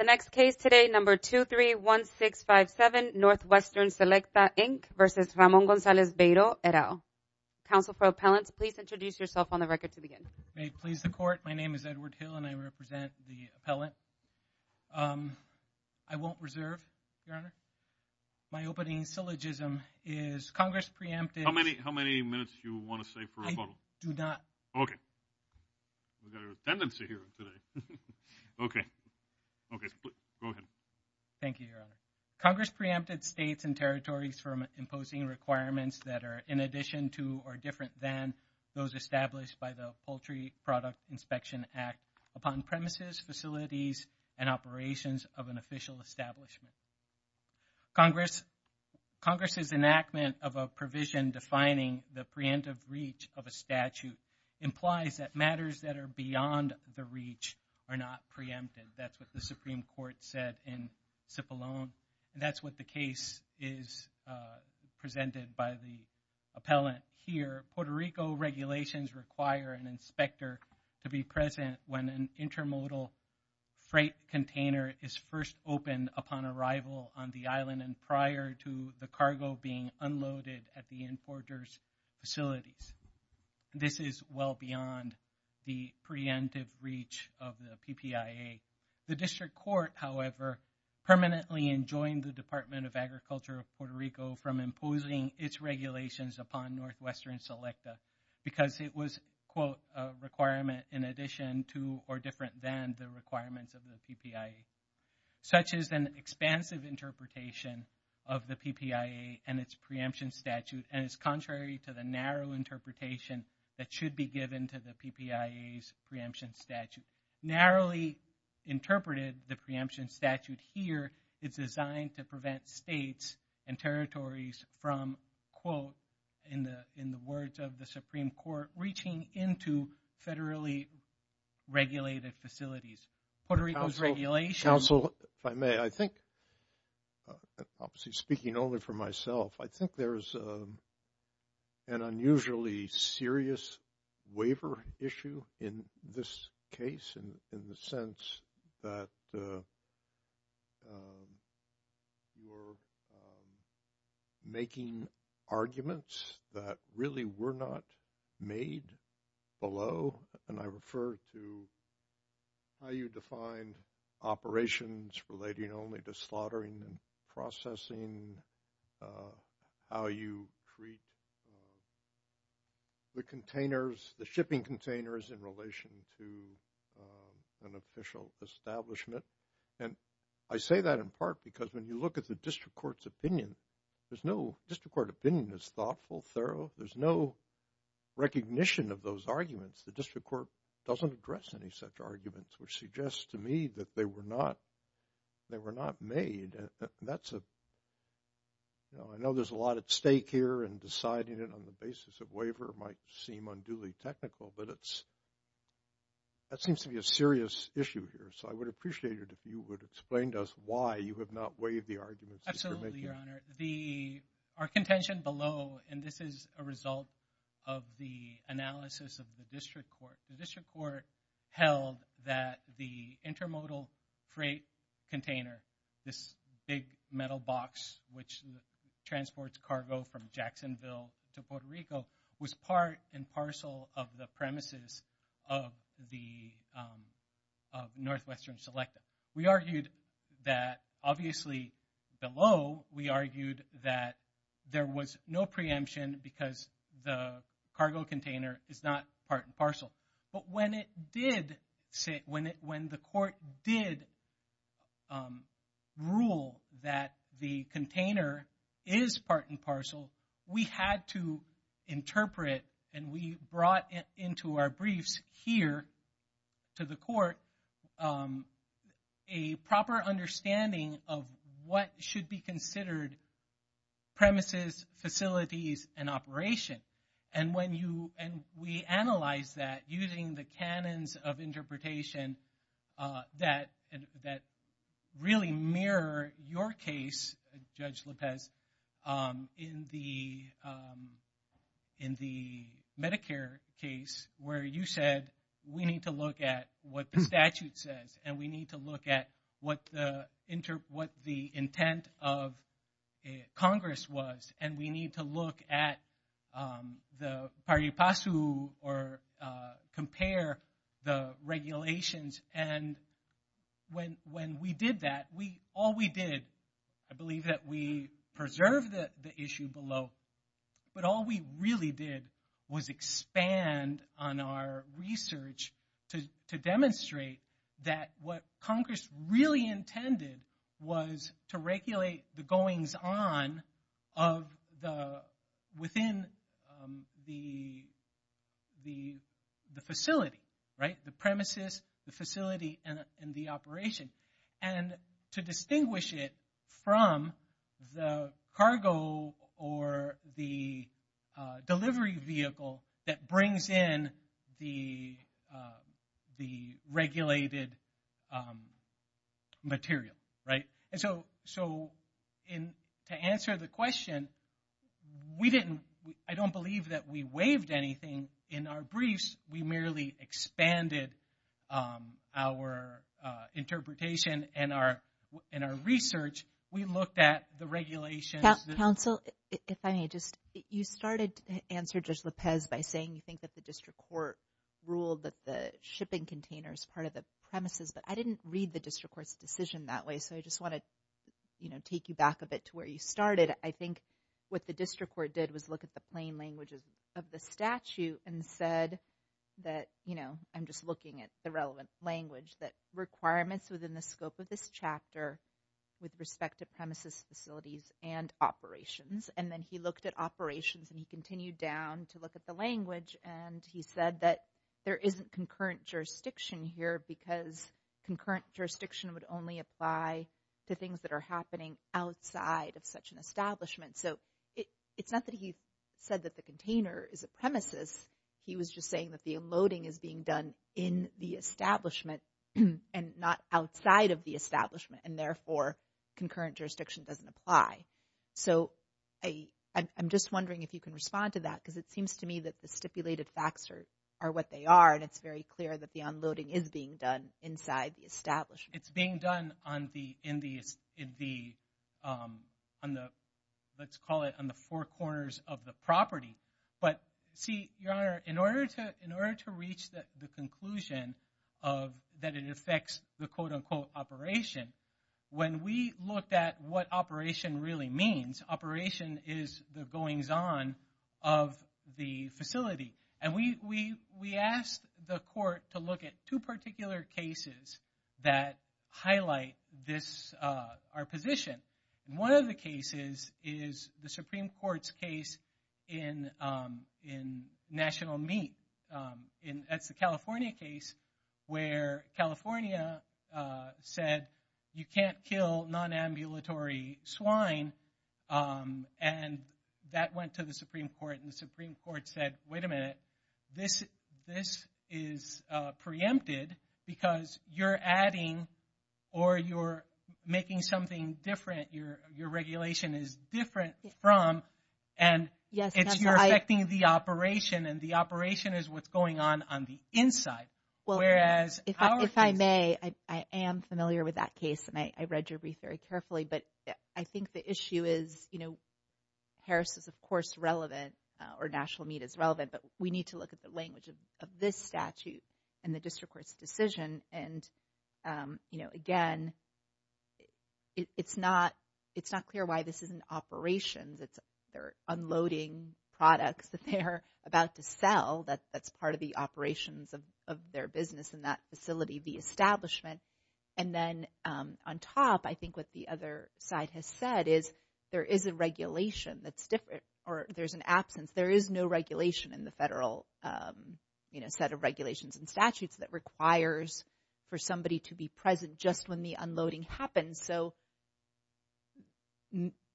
The next case today, number 231657, Northwestern Selecta, Inc. v. Ramon Gonzalez-Beiro, et Counsel for Appellants, please introduce yourself on the record to begin. May it please the Court, my name is Edward Hill and I represent the appellant. I won't reserve, Your Honor. My opening syllogism is Congress preempted. How many minutes do you want to save for rebuttal? I do not. Okay. We've got a redundancy here today. Okay. Okay. Okay. Go ahead. Thank you, Your Honor. Congress preempted states and territories from imposing requirements that are in addition to or different than those established by the Poultry Product Inspection Act upon premises, facilities, and operations of an official establishment. Congress's enactment of a provision defining the preemptive reach of a statute implies that matters that are beyond the reach are not preempted. That's what the Supreme Court said in Cipollone. That's what the case is presented by the appellant here. Puerto Rico regulations require an inspector to be present when an intermodal freight container is first opened upon arrival on the island and prior to the cargo being unloaded at the importer's facilities. This is well beyond the preemptive reach of the PPIA. The district court, however, permanently enjoined the Department of Agriculture of Puerto Rico from imposing its regulations upon Northwestern Selecta because it was, quote, a requirement in addition to or different than the requirements of the PPIA. Such is an expansive interpretation of the PPIA and its preemption statute and is contrary to the narrow interpretation that should be given to the PPIA's preemption statute. Narrowly interpreted, the preemption statute here is designed to prevent states and territories from, quote, in the words of the Supreme Court, reaching into federally regulated facilities. Puerto Rico's regulations... Counsel, if I may, I think, obviously speaking only for myself, I think there's an unusually serious waiver issue in this case in the sense that you're making arguments that really were not made below, and I refer to how you defined operations relating only to slaughtering and processing, how you treat the containers, the shipping containers in relation to an official establishment. And I say that in part because when you look at the district court's opinion, there's no... The district court opinion is thoughtful, thorough, there's no recognition of those arguments. The district court doesn't address any such arguments, which suggests to me that they were not made. I know there's a lot at stake here and deciding it on the basis of waiver might seem unduly technical, but that seems to be a serious issue here. So I would appreciate it if you would explain to us why you have not waived the arguments that you're making. Absolutely, Your Honor. Our contention below, and this is a result of the analysis of the district court, the district court held that the intermodal freight container, this big metal box which transports cargo from Jacksonville to Puerto Rico, was part and parcel of the premises of the Northwestern Selective. We argued that, obviously below, we argued that there was no preemption because the cargo container is not part and parcel. But when the court did rule that the container is part and parcel, we had to interpret and we brought into our briefs here to the court a proper understanding of what should be considered premises, facilities, and operation. And we analyzed that using the canons of interpretation that really mirror your case, Judge Lopez, in the Medicare case where you said, we need to look at what the statute says, and we need to look at what the intent of Congress was, and we need to look at the pari passu or compare the regulations. And when we did that, all we did, I believe that we preserved the issue below, but all we really did was expand on our research to demonstrate that what Congress really intended was to regulate the goings on within the facility, the premises, the facility, and the operation, and to distinguish it from the cargo or the delivery vehicle that brings in the regulated material, right? And so, to answer the question, I don't believe that we waived anything in our briefs. We merely expanded our interpretation and our research. We looked at the regulations. Counsel, if I may, you started, answered Judge Lopez by saying you think that the district court ruled that the shipping container is part of the premises, but I didn't read the district court's decision that way, so I just want to take you back a bit to where you started. I think what the district court did was look at the plain languages of the statute and said that, you know, I'm just looking at the relevant language, that requirements within the scope of this chapter with respect to premises, facilities, and operations, and then he looked at operations, and he continued down to look at the language, and he said that there isn't concurrent jurisdiction here because concurrent jurisdiction would only apply to things that are happening outside of such an establishment, so it's not that he said that the container is a premises. He was just saying that the unloading is being done in the establishment and not outside of the establishment, and therefore, concurrent jurisdiction doesn't apply, so I'm just wondering if you can respond to that because it seems to me that the stipulated facts are what they are, and it's very clear that the unloading is being done inside the establishment. It's being done on the, let's call it, on the four corners of the property, but see, Your Honor, in order to reach the conclusion that it affects the quote-unquote operation, when we looked at what operation really means, operation is the goings-on of the facility, and we asked the court to look at two particular cases that highlight this, our position. One of the cases is the Supreme Court's case in National Meat, and that's the California case where California said you can't kill non-ambulatory swine, and that went to the Supreme Court, and said that this is preempted because you're adding or you're making something different, your regulation is different from, and it's you're affecting the operation, and the operation is what's going on on the inside, whereas our case... If I may, I am familiar with that case, and I read your brief very carefully, but I think the issue is, you know, Harris is, of course, relevant, or National Meat is relevant, but we need to look at the language of this statute and the district court's decision, and, you know, again, it's not clear why this isn't operations, it's they're unloading products that they're about to sell, that's part of the operations of their business in that facility, the establishment, and then on top, I think what the other side has said is there is a regulation that's different, or there's an absence, there is no regulation in the federal, you know, set of regulations and statutes that requires for somebody to be present just when the unloading happens, so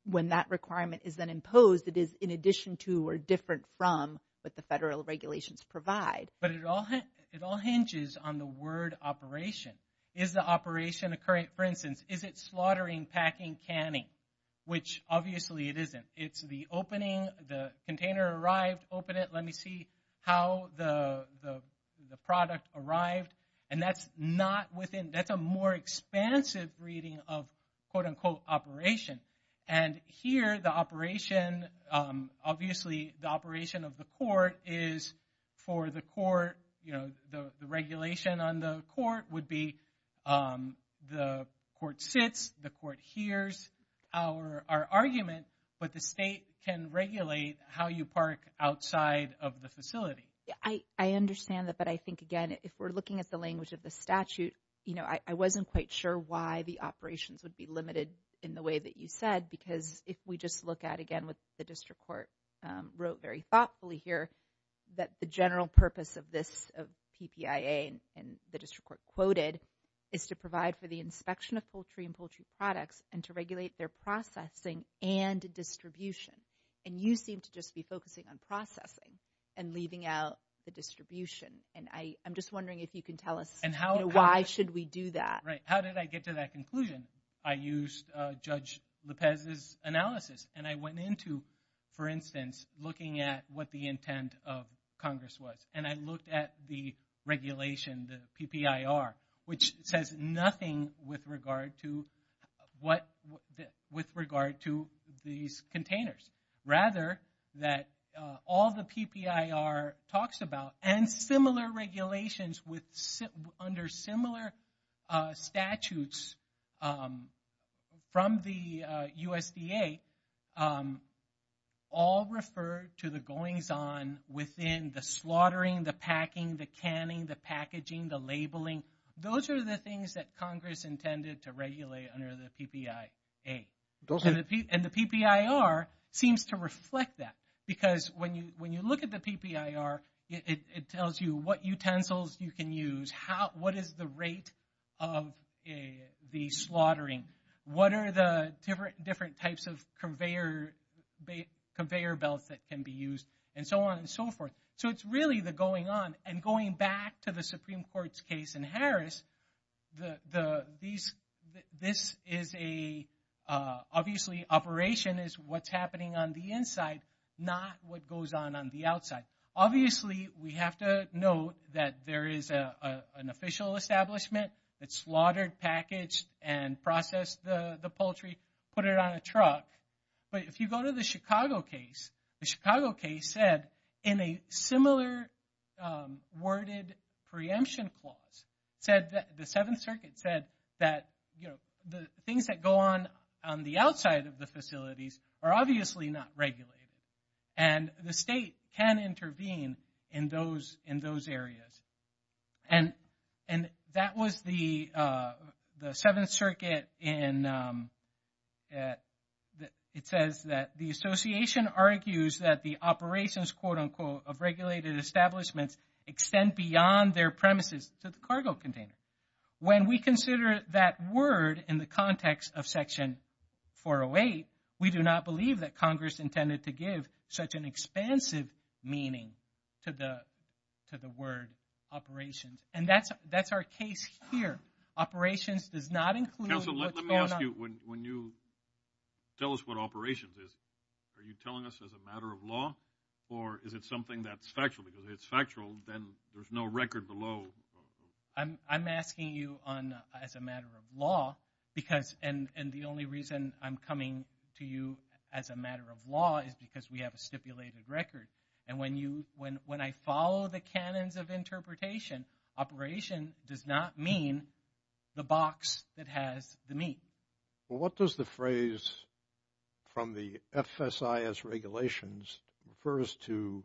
when that requirement is then imposed, it is in addition to or different from what the federal regulations provide. But it all hinges on the word operation. Is the operation occurring, for instance, is it slaughtering, packing, canning, which obviously it isn't. It's the opening, the container arrived, open it, let me see how the product arrived, and that's not within... That's a more expansive reading of, quote-unquote, operation. And here, the operation, obviously, the operation of the court is for the court, you know, the regulation on the court would be the court sits, the court hears our argument, but the state can regulate how you park outside of the facility. Yeah, I understand that, but I think, again, if we're looking at the language of the statute, I wasn't quite sure why the operations would be limited in the way that you said, because if we just look at, again, what the district court wrote very thoughtfully here, that the general purpose of this, of PPIA and the district court quoted, is to provide for the inspection of poultry and poultry products and to regulate their processing and distribution. And you seem to just be focusing on processing and leaving out the distribution, and I'm just wondering if you can tell us, you know, why should we do that? Right, how did I get to that conclusion? I used Judge LePez's analysis, and I went into, for instance, looking at what the intent of Congress was, and I looked at the regulation, the PPIR, which says nothing with regard to what, with regard to these containers. Rather, that all the PPIR talks about, and similar regulations with, under similar statutes from the USDA, all refer to the goings-on within the slaughtering, the packing, the canning, the packaging, the labeling. Those are the things that Congress intended to regulate under the PPIA. And the PPIR seems to reflect that, because when you look at the PPIR, it tells you what utensils you can use, what is the rate of the slaughtering, what are the different types of conveyor belts that can be used, and so on and so forth. So it's really the going-on. And going back to the Supreme Court's case in Harris, the, these, this is a, obviously operation is what's happening on the inside, not what goes on on the outside. Obviously, we have to note that there is an official establishment that slaughtered, packaged, and processed the poultry, put it on a truck, but if you go to the Chicago case, the Chicago case said, in a similar worded preemption clause, said that, the Seventh Circuit said that, you know, the things that go on on the outside of the facilities are obviously not regulated. And the state can intervene in those, in those areas. And that was the Seventh Circuit in, it says that the association argues that the operations, quote, unquote, of regulated establishments extend beyond their premises to the cargo container. When we consider that word in the context of Section 408, we do not believe that Congress intended to give such an expansive meaning to the, to the word operations. And that's, that's our case here. Operations does not include what's going on. I'm asking you, when you tell us what operations is, are you telling us as a matter of law? Or is it something that's factual, because if it's factual, then there's no record below? I'm asking you on, as a matter of law, because, and the only reason I'm coming to you as a matter of law is because we have a stipulated record. And when you, when I follow the canons of interpretation, operation does not mean the box that has the meat. Well, what does the phrase from the FSIS regulations refers to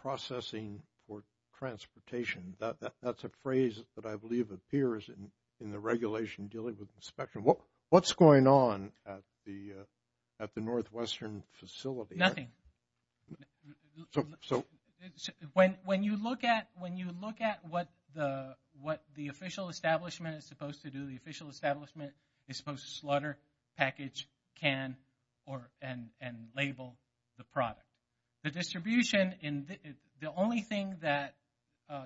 processing for transportation? That's a phrase that I believe appears in the regulation dealing with inspection. What's going on at the, at the Northwestern facility? So, when, when you look at, when you look at what the, what the official establishment is supposed to do, the official establishment is supposed to slaughter, package, can, or, and label the product. The distribution in the, the only thing that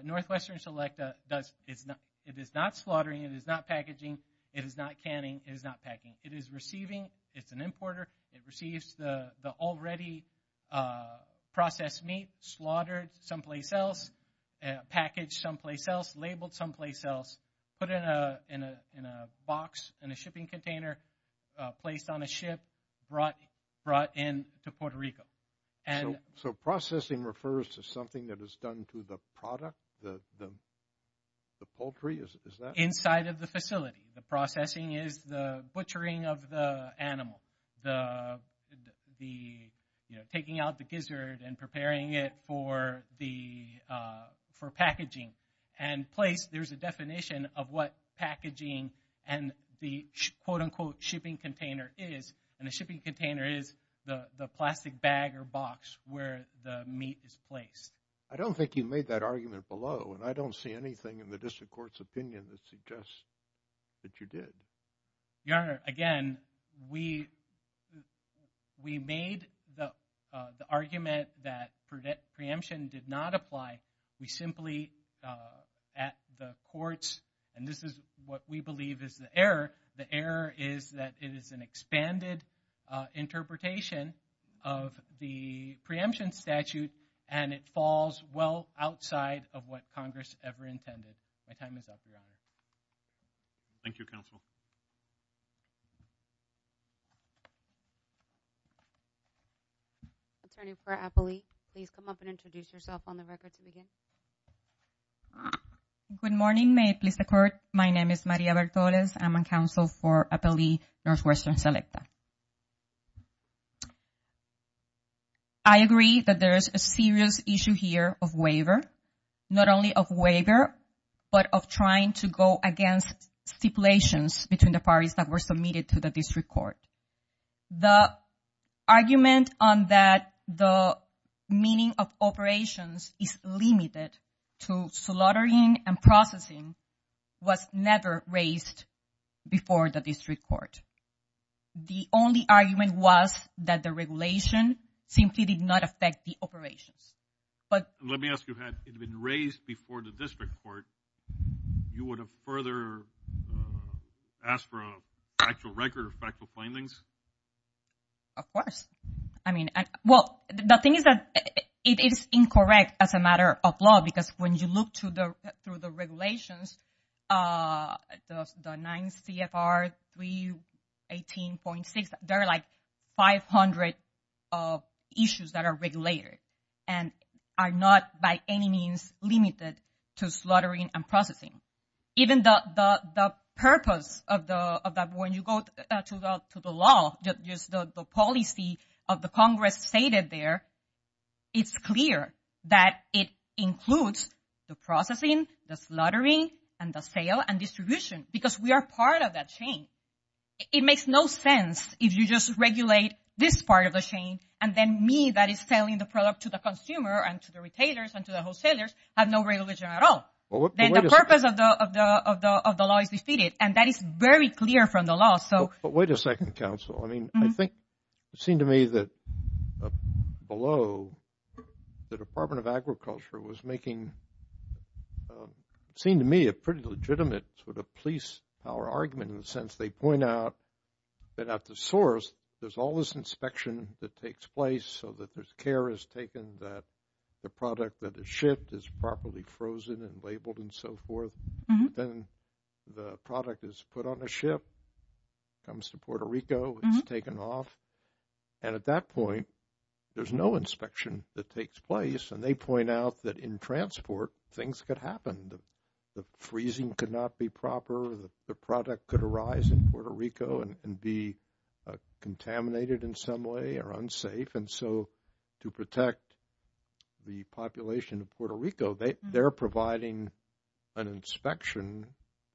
Northwestern Selecta does, it's not, it is not slaughtering, it is not packaging, it is not canning, it is not packing. It is receiving, it's an importer, it receives the, the already processed meat, slaughtered someplace else, packaged someplace else, labeled someplace else, put in a, in a, in a box, in a shipping container, placed on a ship, brought, brought in to Puerto Rico. So, processing refers to something that is done to the product, the, the, the poultry, is that? Inside of the facility. The processing is the butchering of the animal, the, the, you know, taking out the gizzard and preparing it for the, for packaging. And place, there's a definition of what packaging and the quote, unquote, shipping container is, and the shipping container is the, the plastic bag or box where the meat is placed. I don't think you made that argument below, and I don't see anything in the district court's opinion that suggests that you did. Your Honor, again, we, we made the, the argument that preemption did not apply. We simply, at the courts, and this is what we believe is the error, the error is that it is an expanded interpretation of the preemption statute, and it falls well outside of what Congress ever intended. My time is up, Your Honor. Thank you, Counsel. Attorney for Appalee, please come up and introduce yourself on the record to begin. Good morning. May it please the Court? My name is Maria Bartoles. I'm on counsel for Appalee Northwestern Selecta. I agree that there is a serious issue here of waiver. Not only of waiver, but of trying to go against stipulations between the parties that were submitted to the district court. The argument on that the meaning of operations is limited to slaughtering and processing was never raised before the district court. The only argument was that the regulation simply did not affect the operations, but Let me ask you, had it been raised before the district court, you would have further asked for a factual record or factual findings? Of course. I mean, well, the thing is that it is incorrect as a matter of law, because when you look to the, through the regulations, the 9 CFR 318.6, there are like 500 issues that are and are not by any means limited to slaughtering and processing. Even the purpose of that, when you go to the law, just the policy of the Congress stated there, it's clear that it includes the processing, the slaughtering, and the sale and distribution, because we are part of that chain. It makes no sense if you just regulate this part of the chain, and then me that is selling the product to the consumer and to the retailers and to the wholesalers have no regulation at all. Then the purpose of the law is defeated, and that is very clear from the law, so. But wait a second, counsel. I mean, I think it seemed to me that below, the Department of Agriculture was making, it seemed to me a pretty legitimate sort of police power argument in the sense they point out that at the source, there's all this inspection that takes place so that there's care is taken that the product that is shipped is properly frozen and labeled and so forth. Then the product is put on a ship, comes to Puerto Rico, it's taken off. And at that point, there's no inspection that takes place. And they point out that in transport, things could happen. The freezing could not be proper. The product could arise in Puerto Rico and be contaminated in some way or unsafe. And so, to protect the population of Puerto Rico, they're providing an inspection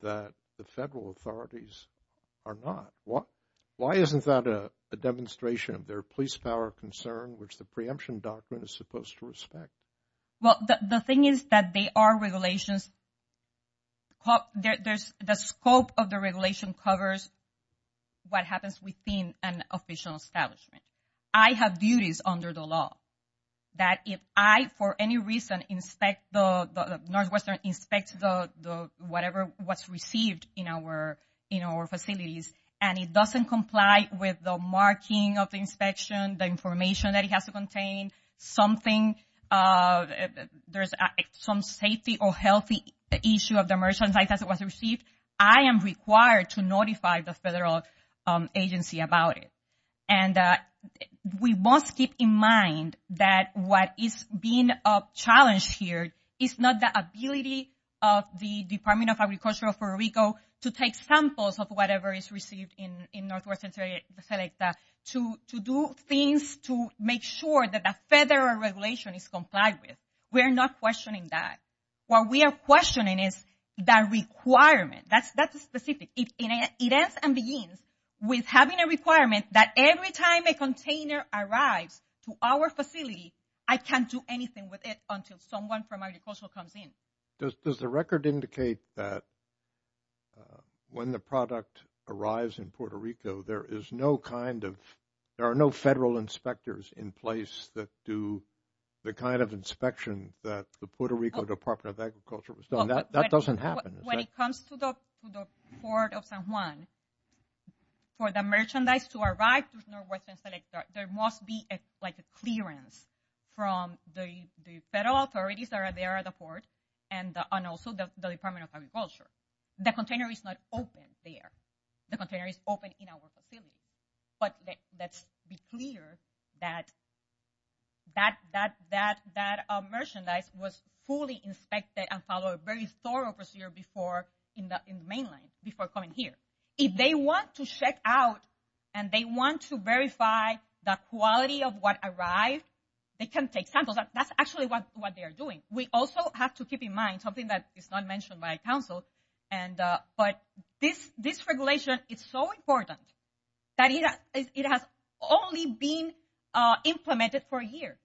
that the federal authorities are not. Why isn't that a demonstration of their police power concern, which the preemption document is supposed to respect? Well, the thing is that they are regulations. The scope of the regulation covers what happens within an official establishment. I have duties under the law that if I, for any reason, inspect the Northwestern, inspect whatever was received in our facilities, and it doesn't comply with the marking of the inspection, the information that it has to contain, something, there's some safety or healthy issue of the merchandise as it was received, I am required to notify the federal agency about it. And we must keep in mind that what is being challenged here is not the ability of the Department of Agriculture of Puerto Rico to take samples of whatever is received in Northwestern to do things to make sure that the federal regulation is complied with. We're not questioning that. What we are questioning is that requirement. That's specific. It ends and begins with having a requirement that every time a container arrives to our facility, I can't do anything with it until someone from agricultural comes in. Does the record indicate that when the product arrives in Puerto Rico, there is no kind of, there are no federal inspectors in place that do the kind of inspection that the Puerto Rico Department of Agriculture was doing? That doesn't happen. When it comes to the port of San Juan, for the merchandise to arrive to Northwestern, there must be like a clearance from the federal authorities that are there at the port. And also the Department of Agriculture. The container is not open there. The container is open in our facility. But let's be clear that that merchandise was fully inspected and followed a very thorough procedure before in the main line, before coming here. If they want to check out and they want to verify the quality of what arrived, they can take samples. That's actually what they are doing. We also have to keep in mind something that is not mentioned by council. But this regulation is so important that it has only been implemented for a year.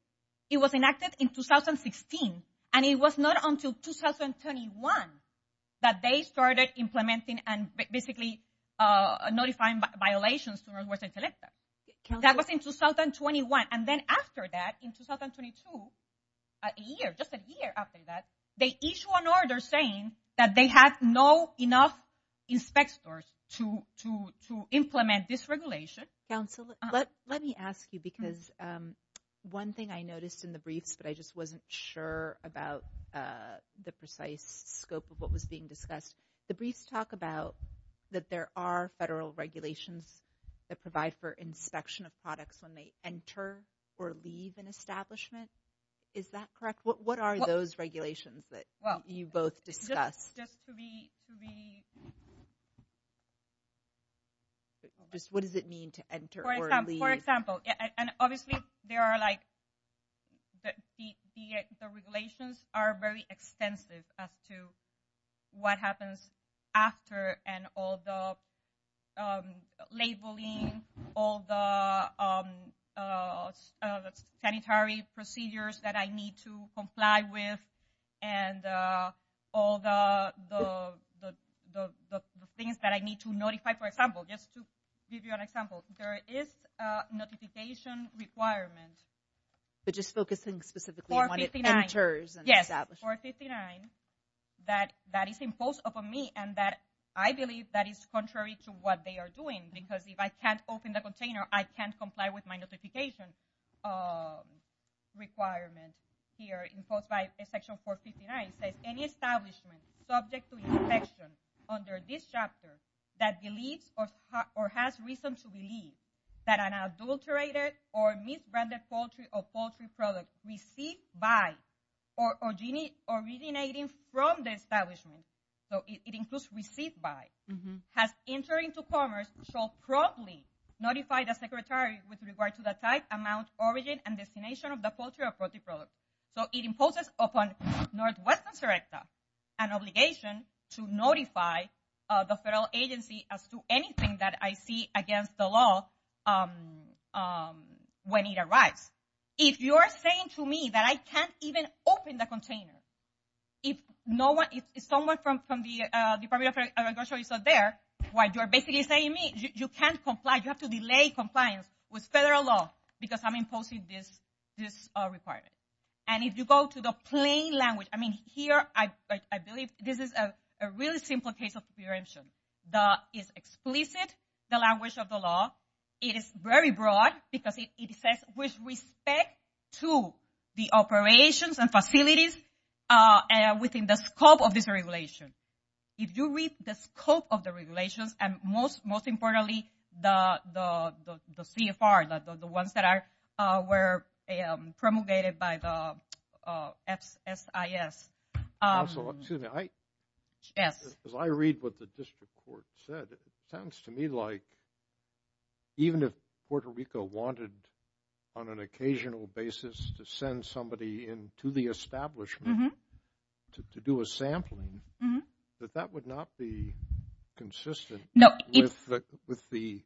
It was enacted in 2016. And it was not until 2021 that they started implementing and basically notifying violations to Northwest Intellecta. That was in 2021. And then after that, in 2022, a year, just a year after that, they issue an order saying that they have no enough inspectors to implement this regulation. Council, let me ask you because one thing I noticed in the briefs, but I just wasn't sure about the precise scope of what was being discussed. The briefs talk about that there are federal regulations that provide for inspection of products when they enter or leave an establishment. Is that correct? What are those regulations that you both discussed? Just what does it mean to enter or leave? For example, and obviously there are like the regulations are very extensive as to what happens after. And all the labeling, all the sanitary procedures that I need to comply with. And all the things that I need to notify. For example, just to give you an example, there is a notification requirement. But just focusing specifically when it enters and establishes. Section 459 that is imposed upon me. And that I believe that is contrary to what they are doing. Because if I can't open the container, I can't comply with my notification requirement here imposed by Section 459. It says any establishment subject to inspection under this chapter that believes or has reason to believe that an adulterated or misbranded poultry or poultry product received by or originating from the establishment. So it includes received by. Has entering to commerce shall promptly notify the secretary with regard to the type, amount, origin, and destination of the poultry or poultry product. So it imposes upon Northwestern Serecta an obligation to notify the federal agency as to anything that I see against the law when it arrives. If you are saying to me that I can't even open the container, if someone from the Department of Agriculture is not there, what you're basically saying to me, you can't comply. You have to delay compliance with federal law because I'm imposing this requirement. And if you go to the plain language, I mean, here I believe this is a really simple case of preemption. That is explicit, the language of the law. It is very broad because it says with respect to the operations and facilities within the scope of this regulation. If you read the scope of the regulations, and most importantly, the CFR, the ones that were promulgated by the FSIS. Also, excuse me, as I read what the district court said, it sounds to me like even if Puerto Rico wanted on an occasional basis to send somebody in to the establishment to do a sampling, that that would not be consistent with the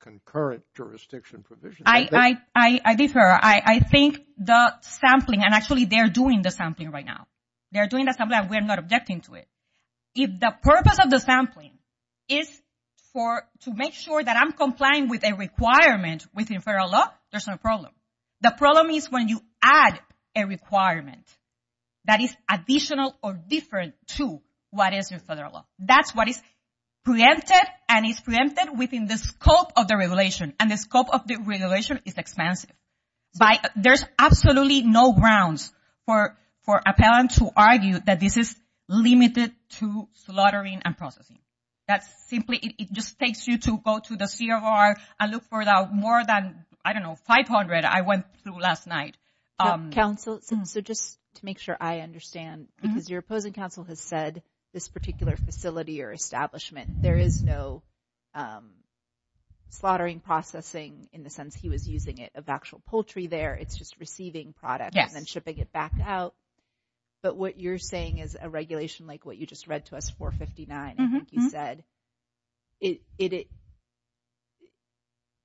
concurrent jurisdiction provision. I differ. I think the sampling, and actually they're doing the sampling right now. They're doing the sampling and we're not objecting to it. If the purpose of the sampling is to make sure that I'm complying with a requirement within federal law, there's no problem. The problem is when you add a requirement that is additional or different to what is in federal law. That's what is preempted and is preempted within the scope of the regulation. And the scope of the regulation is expansive. There's absolutely no grounds for appellants to argue that this is limited to slaughtering and processing. That's simply, it just takes you to go to the CFR and look for the more than, I don't know, 500 I went through last night. Counsel, so just to make sure I understand, because your opposing counsel has said this particular facility or establishment, there is no slaughtering processing in the sense he was using it of actual poultry there. It's just receiving product and then shipping it back out. But what you're saying is a regulation like what you just read to us, 459, I think you said,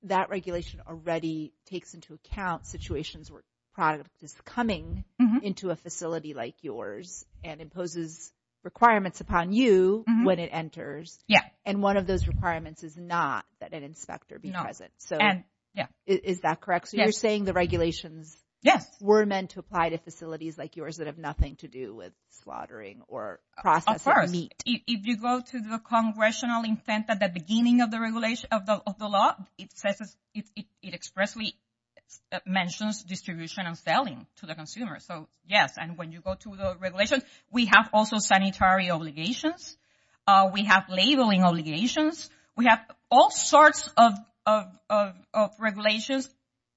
that regulation already takes into account situations where product is coming into a facility like yours and imposes requirements upon you when it enters. And one of those requirements is not that an inspector be present. So is that correct? So you're saying the regulations were meant to apply to facilities like yours that have nothing to do with slaughtering or processing meat. If you go to the congressional intent at the beginning of the law, it expressly mentions distribution and selling to the consumer. So yes, and when you go to the regulations, we have also sanitary obligations. We have labeling obligations. We have all sorts of regulations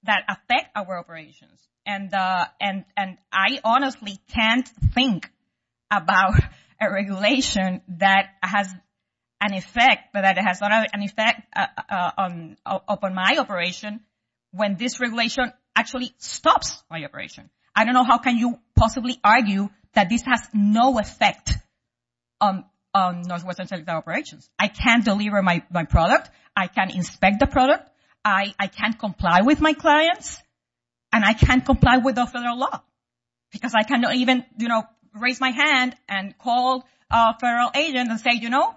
that affect our operations. And I honestly can't think about a regulation that has an effect, but that it has not an effect upon my operation when this regulation actually stops my operation. I don't know how can you possibly argue that this has no effect on Northwest Inspector operations. I can't deliver my product. I can't inspect the product. I can't comply with my clients, and I can't comply with the federal law because I cannot even raise my hand and call a federal agent and say, you know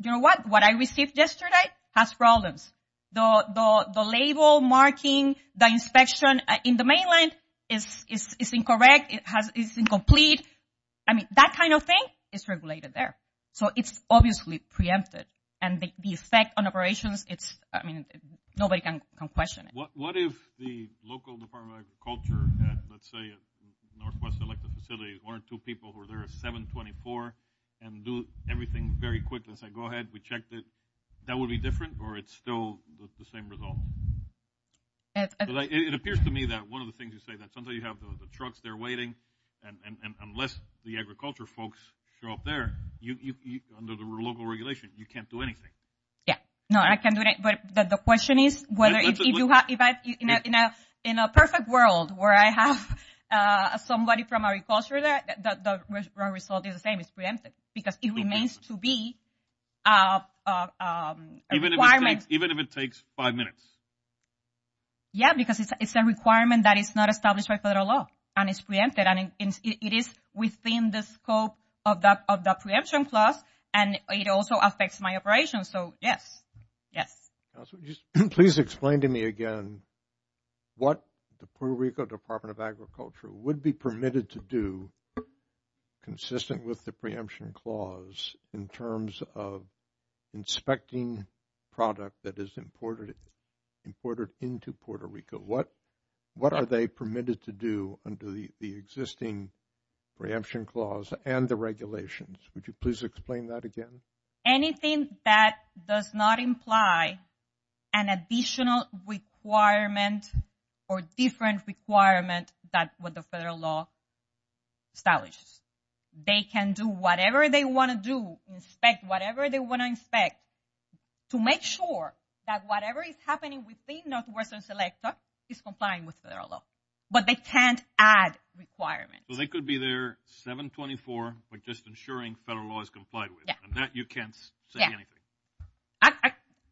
what? What I received yesterday has problems. The label marking the inspection in the mainland is incorrect. It's incomplete. I mean, that kind of thing is regulated there. So it's obviously preempted. And the effect on operations, it's, I mean, nobody can question it. What if the local Department of Agriculture had, let's say, a Northwest selected facility, one or two people who are there at 724 and do everything very quickly and say, go ahead, we checked it, that would be different or it's still the same result? It appears to me that one of the things you say that sometimes you have the trucks there waiting, and unless the agriculture folks show up there, under the local regulation, you can't do anything. Yeah, no, I can do it. But the question is whether if you have, in a perfect world where I have somebody from agriculture there, the result is the same, it's preempted. Because it remains to be a requirement. Even if it takes five minutes? Yeah, because it's a requirement that is not established by federal law. And it's preempted. And it is within the scope of the preemption clause. And it also affects my operations. So, yes. Yes. Please explain to me again what the Puerto Rico Department of Agriculture would be permitted to do consistent with the preemption clause in terms of inspecting product that is imported into Puerto Rico? What are they permitted to do under the existing preemption clause and the regulations? Would you please explain that again? Anything that does not imply an additional requirement or different requirement that the federal law establishes. They can do whatever they want to do, inspect whatever they want to inspect, to make sure that whatever is happening within Northwestern Selecta is complying with federal law. But they can't add requirements. Well, they could be there 724, but just ensuring federal law is complied with. And that you can't say anything.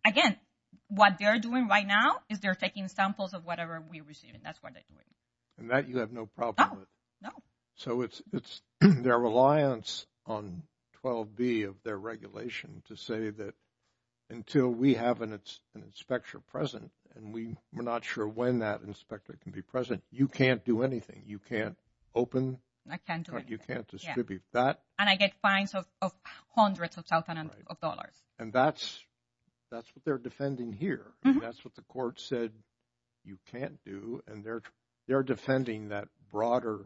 Again, what they're doing right now is they're taking samples of whatever we're receiving. That's what they're doing. And that you have no problem with. No. So, it's their reliance on 12B of their regulation to say that until we have an inspector present, and we're not sure when that inspector can be present, you can't do anything. You can't open. I can't do anything. You can't distribute that. And I get fines of hundreds of thousands of dollars. And that's what they're defending here. That's what the court said you can't do. And they're defending that broader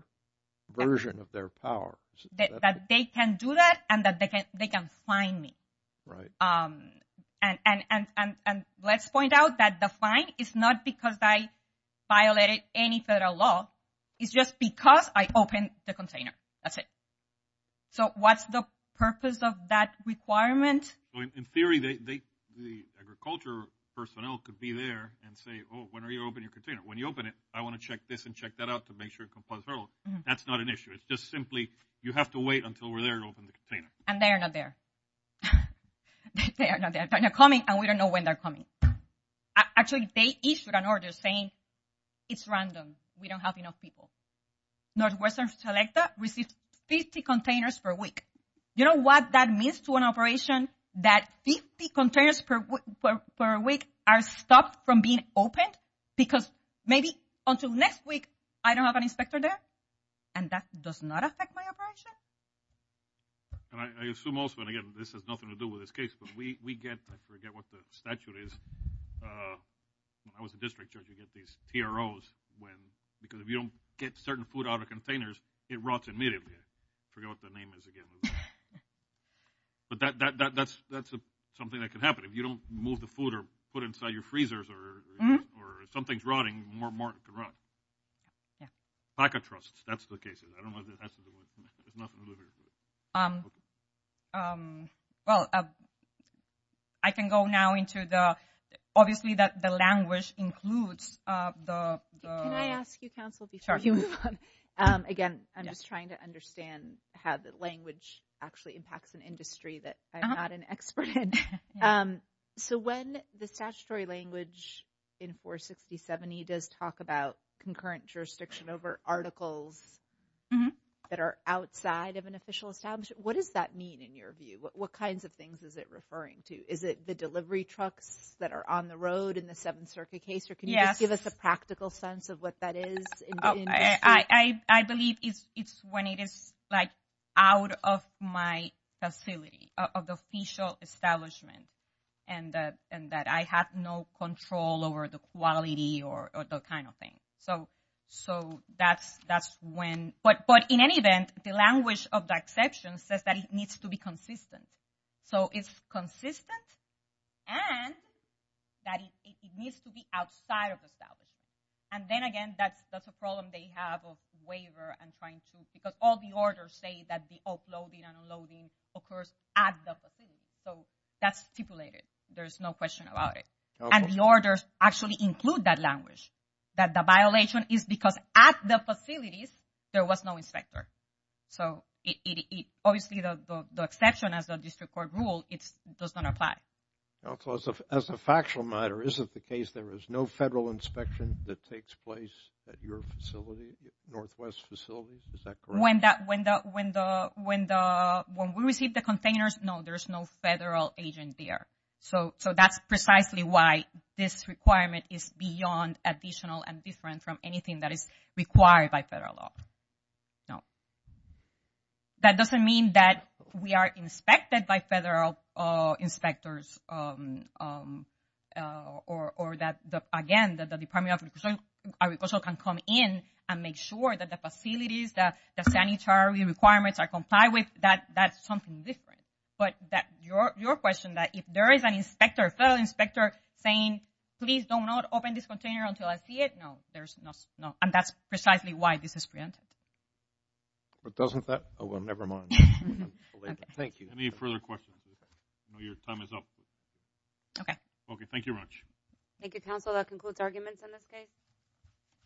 version of their power. That they can do that and that they can fine me. Right. And let's point out that the fine is not because I violated any federal law. It's just because I opened the container. That's it. So, what's the purpose of that requirement? In theory, the agriculture personnel could be there and say, oh, when are you opening your container? When you open it, I want to check this and check that out to make sure it complies. That's not an issue. It's just simply you have to wait until we're there to open the container. And they are not there. They are not there. But they're coming and we don't know when they're coming. Actually, they issued an order saying it's random. We don't have enough people. Northwestern Selecta receives 50 containers per week. You know what that means to an operation? That 50 containers per week are stopped from being opened? Because maybe until next week, I don't have an inspector there. And that does not affect my operation. And I assume also, and again, this has nothing to do with this case, but we get, I forget what the statute is. I was a district judge. You get these TROs when, because if you don't get certain food out of containers, it rots immediately. Forget what the name is again. But that's something that can happen. If you don't move the food or put it inside your freezers or something's rotting, more market can rot. Packet trusts, that's the case. I don't know if that's the one. There's nothing to do here. Well, I can go now into the, obviously, the language includes the... Can I ask you, counsel, before you move on? Again, I'm just trying to understand how the language actually impacts an industry that I'm not an expert in. So when the statutory language in 46070 does talk about concurrent jurisdiction over articles that are outside of an official establishment, what does that mean in your view? What kinds of things is it referring to? Is it the delivery trucks that are on the road in the Seventh Circuit case? Or can you just give us a practical sense of what that is? I believe it's when it is out of my facility of the official establishment and that I have no control over the quality or the kind of thing. But in any event, the language of the exception says that it needs to be consistent. So it's consistent and that it needs to be outside of the establishment. And then again, that's a problem they have of waiver and trying to... Because all the orders say that the uploading and unloading occurs at the facility. So that's stipulated. There's no question about it. And the orders actually include that language. That the violation is because at the facilities, there was no inspector. So obviously, the exception as a district court rule, it does not apply. Also, as a factual matter, is it the case there is no federal inspection that takes place at your facility, Northwest facilities? Is that correct? When we receive the containers, no, there's no federal agent there. So that's precisely why this requirement is beyond additional and different from anything that is required by federal law. No. That doesn't mean that we are inspected by federal inspectors or that, again, that the Department of Agricultural can come in and make sure that the facilities, that the sanitary requirements are complied with, that's something different. But that your question that if there is an inspector, federal inspector saying, please do not open this container until I see it. No, there's no... And that's precisely why this is preempted. But doesn't that... Oh, well, never mind. Thank you. Any further questions? I know your time is up. Okay. Okay, thank you very much. Thank you, counsel. That concludes arguments on this case.